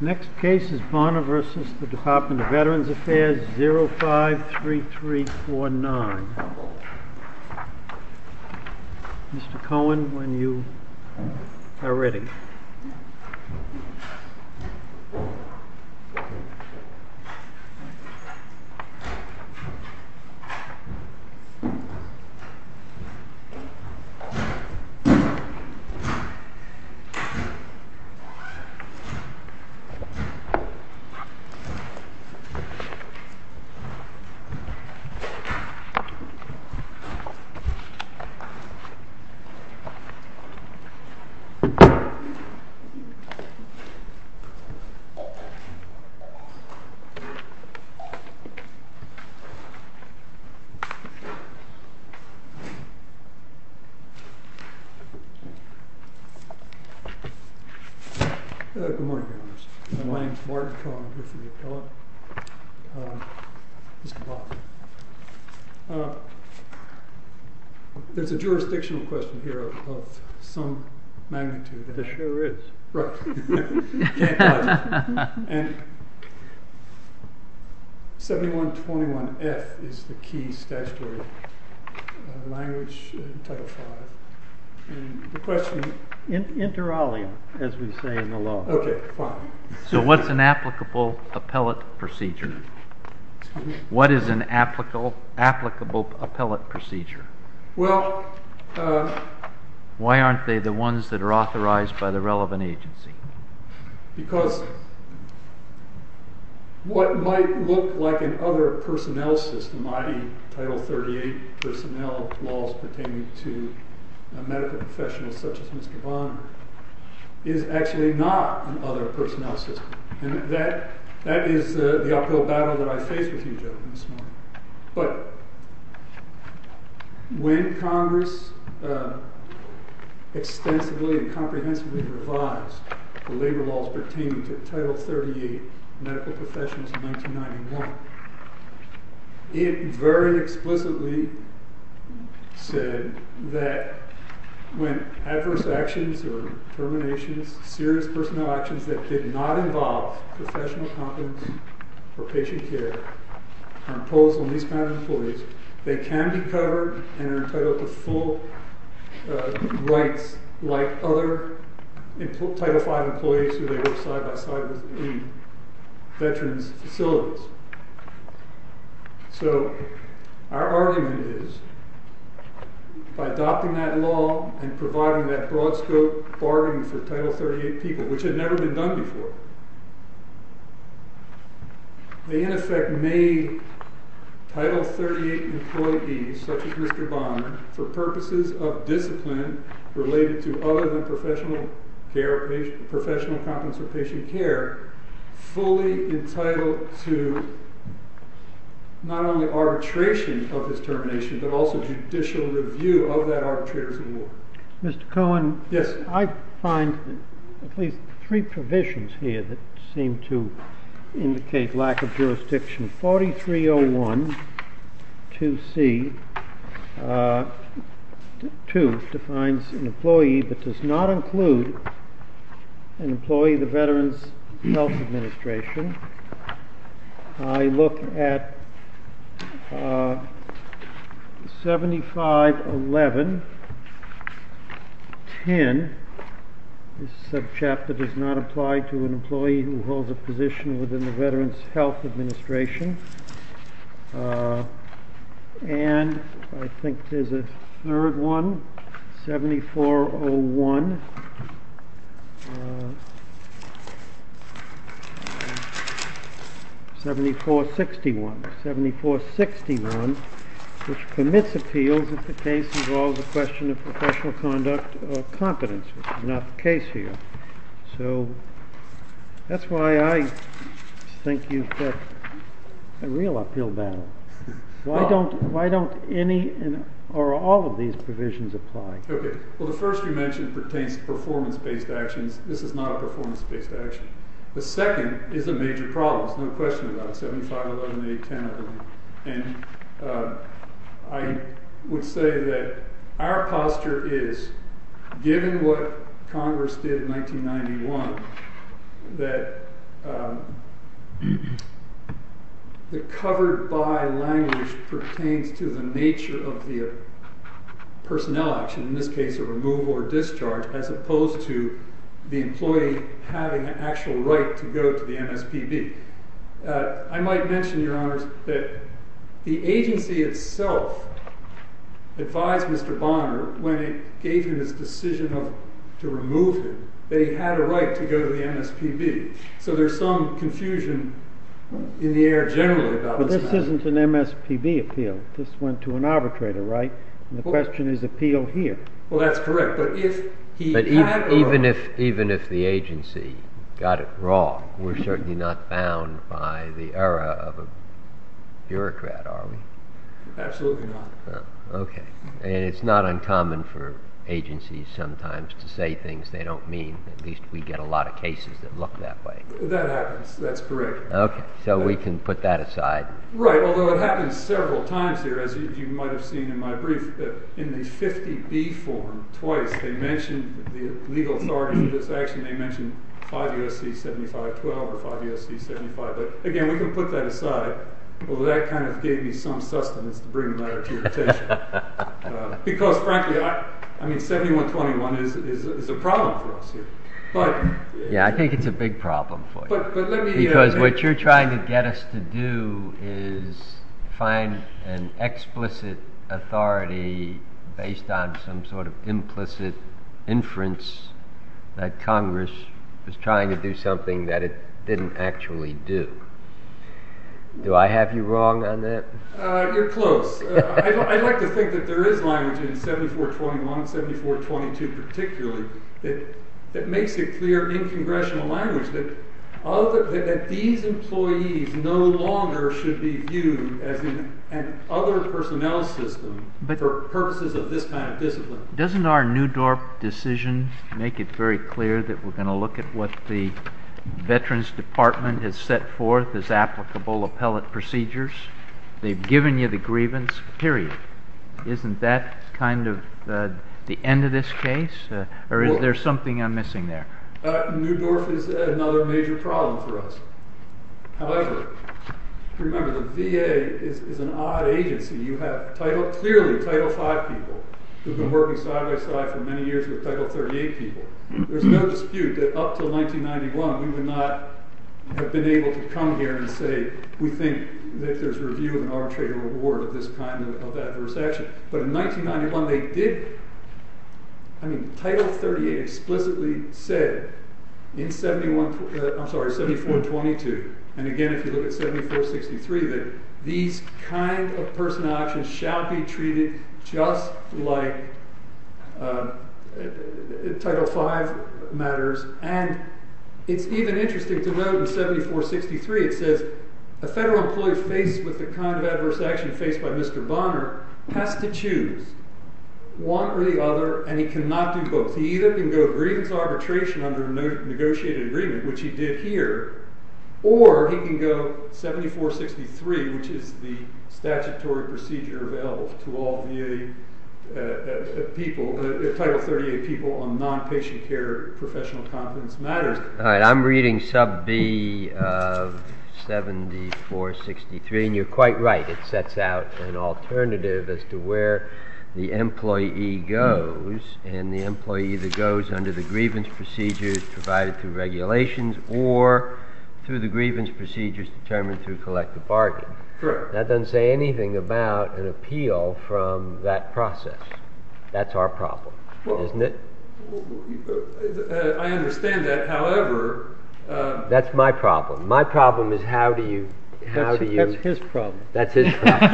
Next case is Bonner v. DVA 053349. Mr. Cohen, when you are ready. Bonner v. DVA 053349. Mr. Cohen, when you are ready. Good morning. My name is Martin Cohen. I'm here for the appellate. There's a jurisdictional question here of some magnitude. There sure is. Right. I can't dodge it. 7121F is the key statutory language in Title V. Inter alia, as we say in the law. Okay, fine. So what's an applicable appellate procedure? Why aren't they the ones that are authorized by the relevant agency? Because what might look like an other personnel system, i.e., Title 38 personnel laws pertaining to medical professionals such as Mr. Bonner, is actually not an other personnel system. And that is the uphill battle that I face with you gentlemen this morning. But when Congress extensively and comprehensively revised the labor laws pertaining to Title 38 medical professionals in 1991, it very explicitly said that when adverse actions or determinations, serious personnel actions that did not involve professional competence or patient care are imposed on these kind of employees, they can be covered and are entitled to full rights like other Title V employees who they work side by side with in veterans facilities. So our argument is, by adopting that law and providing that broad scope bargaining for Title 38 people, which had never been done before, they in effect made Title 38 employees such as Mr. Bonner, for purposes of discipline related to other than professional competence or patient care, fully entitled to not only arbitration of his termination, but also judicial review of that arbitrator's award. Mr. Cohen? Yes. I find at least three provisions here that seem to indicate lack of jurisdiction. 4301, 2C, 2 defines an employee that does not include an employee of the Veterans Health Administration. I look at 7511, 10, this subchapter does not apply to an employee who holds a position within the Veterans Health Administration. And I think there's a third one, 7401, 7461, which commits appeals if the case involves a question of professional conduct or competence, which is not the case here. So that's why I think you've got a real appeal battle. Why don't any or all of these provisions apply? Well, the first you mentioned pertains to performance-based actions. This is not a performance-based action. The second is a major problem. There's no question about it. 7511, 8, 10, I believe. And I would say that our posture is, given what Congress did in 1991, that the covered-by language pertains to the nature of the personnel action, in this case a removal or discharge, as opposed to the employee having an actual right to go to the MSPB. I might mention, Your Honors, that the agency itself advised Mr. Bonner, when it gave him his decision to remove him, that he had a right to go to the MSPB. So there's some confusion in the air generally about this matter. But this isn't an MSPB appeal. This went to an arbitrator, right? And the question is appeal here. Well, that's correct. But even if the agency got it wrong, we're certainly not bound by the error of a bureaucrat, are we? Absolutely not. Okay. And it's not uncommon for agencies sometimes to say things they don't mean. At least we get a lot of cases that look that way. That happens. That's correct. Okay. So we can put that aside. Right. Although it happened several times here, as you might have seen in my brief, that in the 50B form, twice, they mentioned the legal authority for this action. They mentioned 5 U.S.C. 7512 or 5 U.S.C. 75. But, again, we can put that aside. Although that kind of gave me some sustenance to bring the matter to your attention. Because, frankly, I mean 7121 is a problem for us here. Yeah, I think it's a big problem for you. Because what you're trying to get us to do is find an explicit authority based on some sort of implicit inference that Congress was trying to do something that it didn't actually do. Do I have you wrong on that? You're close. I'd like to think that there is language in 7421 and 7422 particularly that makes it clear in congressional language that these employees no longer should be viewed as an other personnel system for purposes of this kind of discipline. Doesn't our New Dorp decision make it very clear that we're going to look at what the Veterans Department has set forth as applicable appellate procedures? They've given you the grievance, period. Isn't that kind of the end of this case? Or is there something I'm missing there? New Dorp is another major problem for us. However, remember the VA is an odd agency. You have clearly Title 5 people who have been working side by side for many years with Title 38 people. There's no dispute that up until 1991 we would not have been able to come here and say we think that there's review of an arbitratorial award of this kind of adverse action. Title 38 explicitly said in 7422 and again if you look at 7463 that these kind of personnel actions shall be treated just like Title 5 matters. It's even interesting to note in 7463 it says a federal employee faced with the kind of adverse action faced by Mr. Bonner has to choose one or the other and he cannot do both. He either can go grievance arbitration under a negotiated agreement, which he did here, or he can go 7463, which is the statutory procedure available to all VA people, Title 38 people on non-patient care professional confidence matters. I'm reading sub B of 7463 and you're quite right. It sets out an alternative as to where the employee goes and the employee either goes under the grievance procedures provided through regulations or through the grievance procedures determined through collective bargaining. That doesn't say anything about an appeal from that process. That's our problem, isn't it? I understand that, however... That's my problem. My problem is how do you... That's his problem. That's his problem.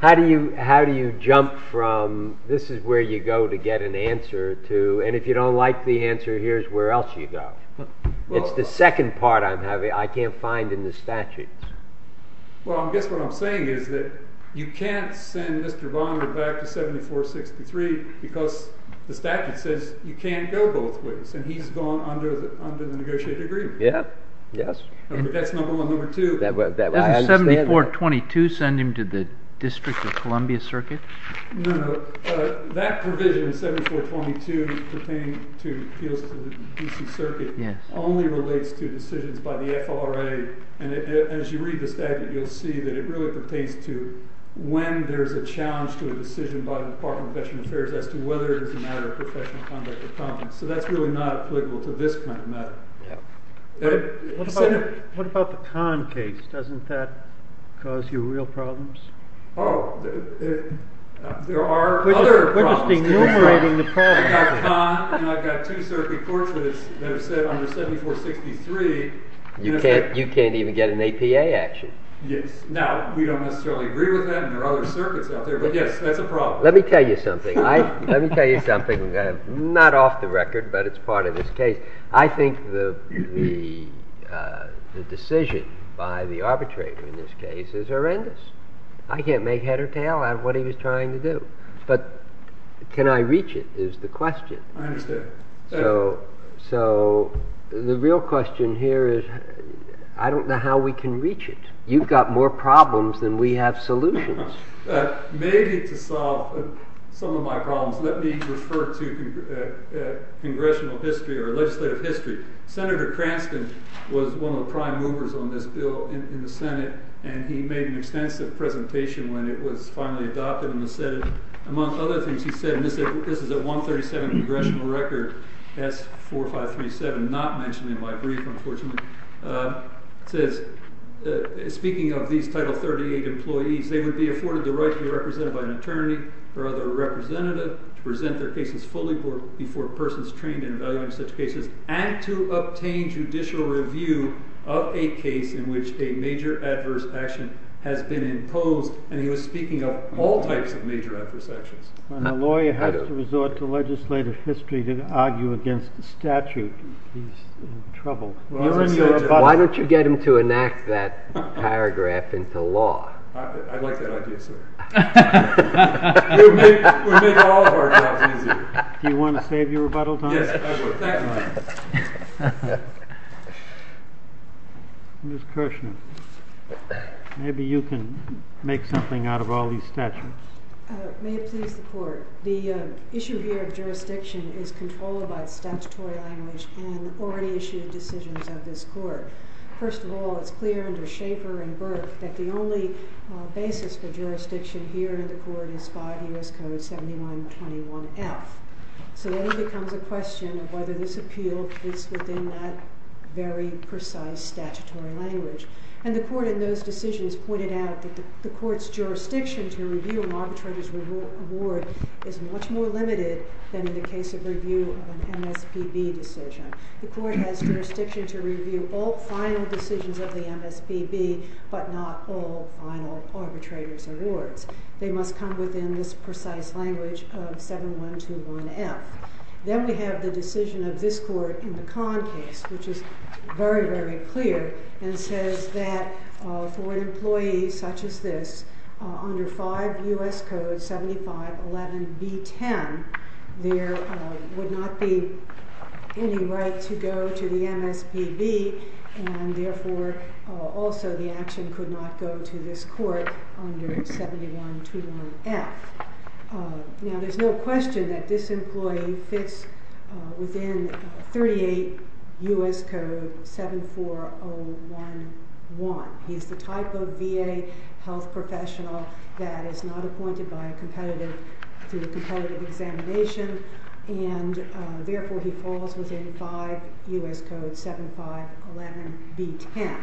How do you jump from this is where you go to get an answer to and if you don't like the answer here's where else you go. It's the second part I can't find in the statutes. Well, I guess what I'm saying is that you can't send Mr. Bonner back to 7463 because the statute says you can't go both ways and he's gone under the negotiated agreement. Yes. That's number one. Number two... Doesn't 7422 send him to the District of Columbia Circuit? No, no. That provision 7422 pertaining to appeals to the D.C. Circuit only relates to decisions by the FLRA and as you read the statute you'll see that it really pertains to when there's a challenge to a decision by the Department of Veterans Affairs as to whether it's a matter of professional conduct or not. So that's really not applicable to this kind of matter. What about the con case? Doesn't that cause you real problems? Oh, there are other problems. We're just enumerating the problems. I've got a con and I've got two circuit courts that have said under 7463... You can't even get an APA action. Yes. Now, we don't necessarily agree with that and there are other circuits out there, but yes, that's a problem. Let me tell you something. Not off the record, but it's part of this case. I think the decision by the arbitrator in this case is horrendous. I can't make head or tail out of what he was trying to do, but can I reach it is the question. I understand. Thank you. So the real question here is I don't know how we can reach it. You've got more problems than we have solutions. Maybe to solve some of my problems, let me refer to congressional history or legislative history. Senator Cranston was one of the prime movers on this bill in the Senate, and he made an extensive presentation when it was finally adopted in the Senate. Among other things, he said, and this is a 137 congressional record, S4537, not mentioned in my brief, unfortunately. It says, speaking of these Title 38 employees, they would be afforded the right to be represented by an attorney or other representative to present their cases fully before persons trained in evaluating such cases and to obtain judicial review of a case in which a major adverse action has been imposed. And he was speaking of all types of major adverse actions. When a lawyer has to resort to legislative history to argue against a statute, he's in trouble. Why don't you get him to enact that paragraph into law? I'd like that idea, sir. It would make all of our jobs easier. Do you want to save your rebuttal time? Yes, I would. Thank you. Ms. Kirshner, maybe you can make something out of all these statutes. May it please the Court. The issue here of jurisdiction is controlled by statutory language in already issued decisions of this Court. First of all, it's clear under Schaeffer and Burke that the only basis for jurisdiction here in the Court is 5 U.S. Code 7921F. So then it becomes a question of whether this appeal is within that very precise statutory language. And the Court in those decisions pointed out that the Court's jurisdiction to review an arbitrator's award is much more limited than in the case of review of an MSPB decision. The Court has jurisdiction to review all final decisions of the MSPB, but not all final arbitrator's awards. They must come within this precise language of 7121F. Then we have the decision of this Court in the Kahn case, which is very, very clear, and says that for an employee such as this, under 5 U.S. Code 7511B10, there would not be any right to go to the MSPB, and therefore also the action could not go to this Court under 7121F. Now, there's no question that this employee fits within 38 U.S. Code 74011. He's the type of VA health professional that is not appointed by a competitive, through a competitive examination, and therefore he falls within 5 U.S. Code 7511B10.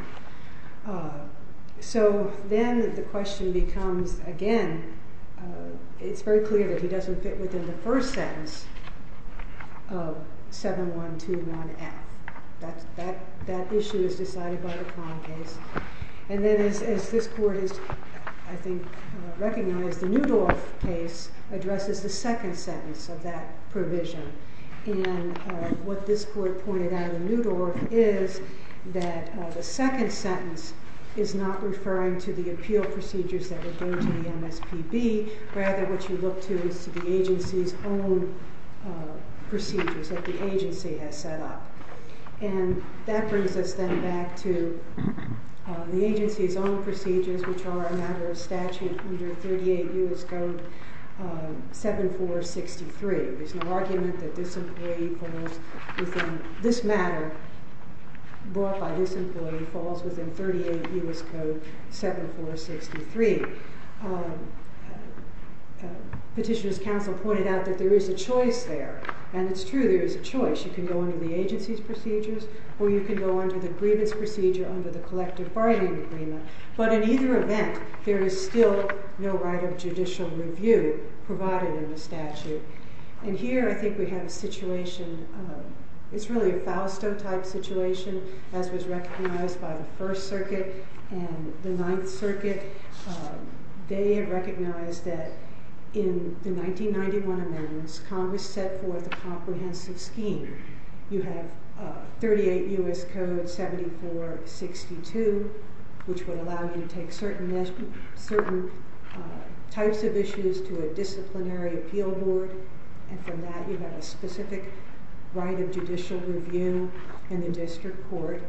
So then the question becomes, again, it's very clear that he doesn't fit within the first sentence of 7121F. That issue is decided by the Kahn case. And then as this Court has, I think, recognized, the Newdorf case addresses the second sentence of that provision. And what this Court pointed out in Newdorf is that the second sentence is not referring to the appeal procedures that would go to the MSPB. Rather, what you look to is the agency's own procedures that the agency has set up. And that brings us then back to the agency's own procedures, which are a matter of statute under 38 U.S. Code 7463. There's no argument that this matter brought by this employee falls within 38 U.S. Code 7463. Petitioner's counsel pointed out that there is a choice there, and it's true there is a choice. You can go under the agency's procedures, or you can go under the agreement's procedure under the collective bargaining agreement. But in either event, there is still no right of judicial review provided in the statute. And here I think we have a situation, it's really a Fausto-type situation, as was recognized by the First Circuit and the Ninth Circuit. They had recognized that in the 1991 amendments, Congress set forth a comprehensive scheme. You have 38 U.S. Code 7462, which would allow you to take certain types of issues to a disciplinary appeal board. And from that, you have a specific right of judicial review in the district court.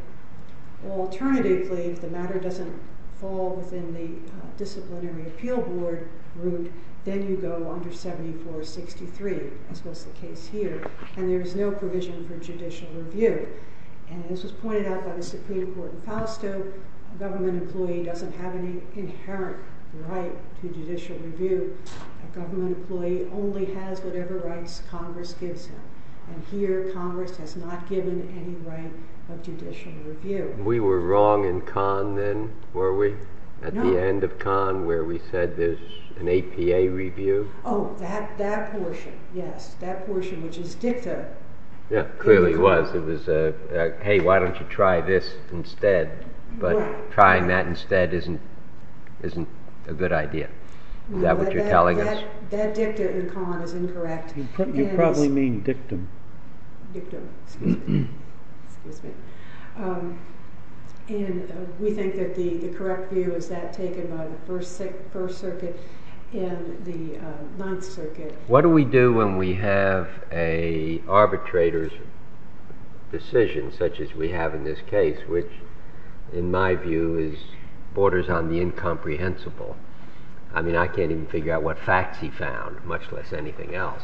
Alternatively, if the matter doesn't fall within the disciplinary appeal board group, then you go under 7463, as was the case here. And there is no provision for judicial review. And as was pointed out by the Supreme Court in Fausto, a government employee doesn't have any inherent right to judicial review. A government employee only has whatever rights Congress gives him. And here, Congress has not given any right of judicial review. We were wrong in Kahn then, were we? No. At the end of Kahn, where we said there's an APA review. Oh, that portion, yes. That portion, which is dicta. Yeah, clearly it was. It was, hey, why don't you try this instead? But trying that instead isn't a good idea. Is that what you're telling us? That dicta in Kahn is incorrect. You probably mean dictum. Dictum, excuse me. And we think that the correct view is that taken by the First Circuit and the Ninth Circuit. What do we do when we have an arbitrator's decision, such as we have in this case, which, in my view, borders on the incomprehensible? I mean, I can't even figure out what facts he found, much less anything else.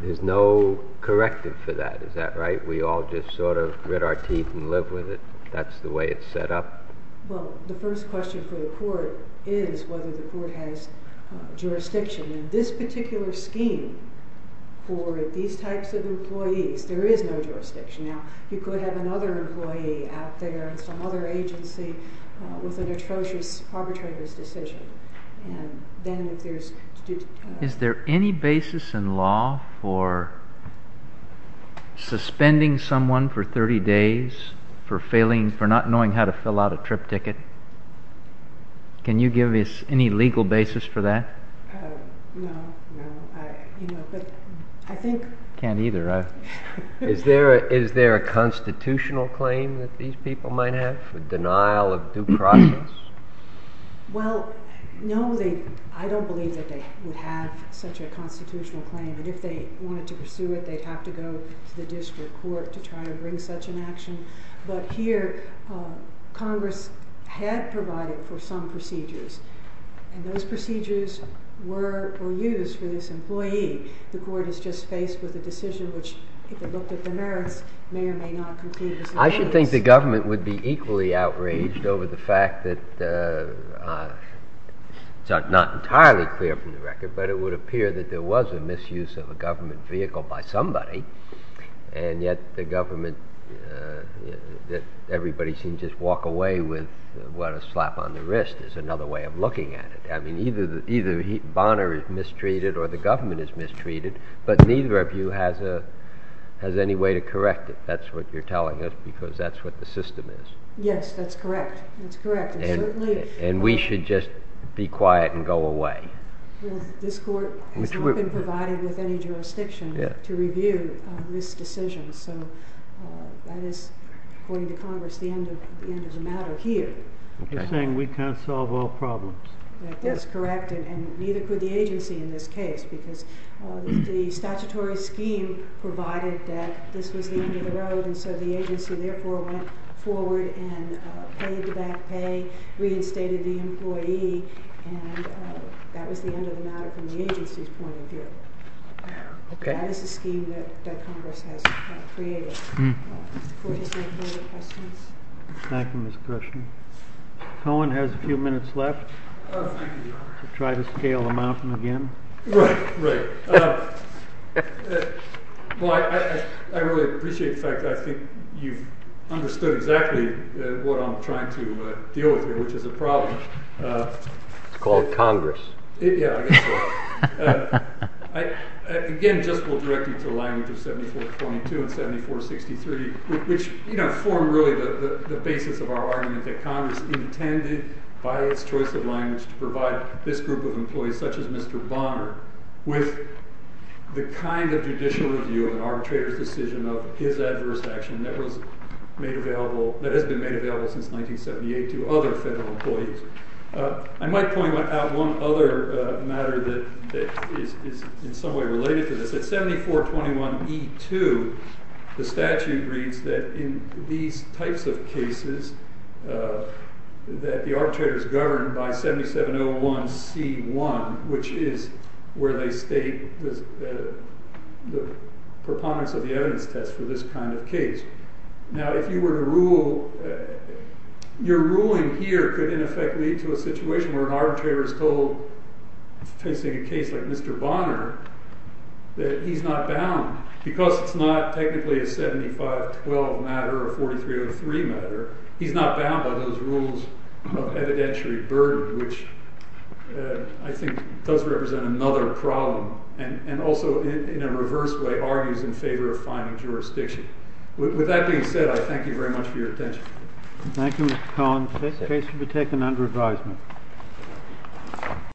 There's no corrective for that. Is that right? We all just sort of grit our teeth and live with it? That's the way it's set up? Well, the first question for the court is whether the court has jurisdiction. In this particular scheme, for these types of employees, there is no jurisdiction. Now, you could have another employee out there in some other agency with an atrocious arbitrator's decision. Is there any basis in law for suspending someone for 30 days for not knowing how to fill out a trip ticket? Can you give us any legal basis for that? No. I can't either. Is there a constitutional claim that these people might have for denial of due process? Well, no. I don't believe that they would have such a constitutional claim. And if they wanted to pursue it, they'd have to go to the district court to try to bring such an action. But here, Congress had provided for some procedures. And those procedures were used for this employee. The court has just faced with a decision which, if it looked at the merits, may or may not conclude as an error. I should think the government would be equally outraged over the fact that it's not entirely clear from the record, but it would appear that there was a misuse of a government vehicle by somebody. And yet the government, everybody seems to just walk away with what a slap on the wrist is another way of looking at it. I mean, either Bonner is mistreated or the government is mistreated, but neither of you has any way to correct it. That's what you're telling us, because that's what the system is. Yes, that's correct. That's correct. And we should just be quiet and go away. This court has not been provided with any jurisdiction to review this decision. So that is, according to Congress, the end of the matter here. You're saying we can't solve all problems. That's correct. And neither could the agency in this case, because the statutory scheme provided that this was the end of the road. And so the agency, therefore, went forward and paid the back pay, reinstated the employee. And that was the end of the matter from the agency's point of view. That is the scheme that Congress has created. Thank you, Ms. Krushen. Cohen has a few minutes left. Try to scale the mountain again. Right, right. Well, I really appreciate the fact that I think you've understood exactly what I'm trying to deal with here, which is a problem. It's called Congress. Yeah, I guess so. Again, just we'll direct you to the language of 7422 and 7463, which form really the basis of our argument that Congress intended by its choice of language to provide this group of employees, such as Mr. Bonner, with the kind of judicial review of an arbitrator's decision of his adverse action that has been made available since 1978 to other federal employees. I might point out one other matter that is in some way related to this. At 7421E2, the statute reads that in these types of cases, that the arbitrator is governed by 7701C1, which is where they state the preponderance of the evidence test for this kind of case. Now, if you were to rule, your ruling here could in effect lead to a situation where an arbitrator is told, facing a case like Mr. Bonner, that he's not bound. Because it's not technically a 7512 matter or 4303 matter, he's not bound by those rules of evidentiary burden, which I think does represent another problem and also in a reverse way argues in favor of finding jurisdiction. With that being said, I thank you very much for your attention. Thank you, Mr. Collins. This case will be taken under advisement.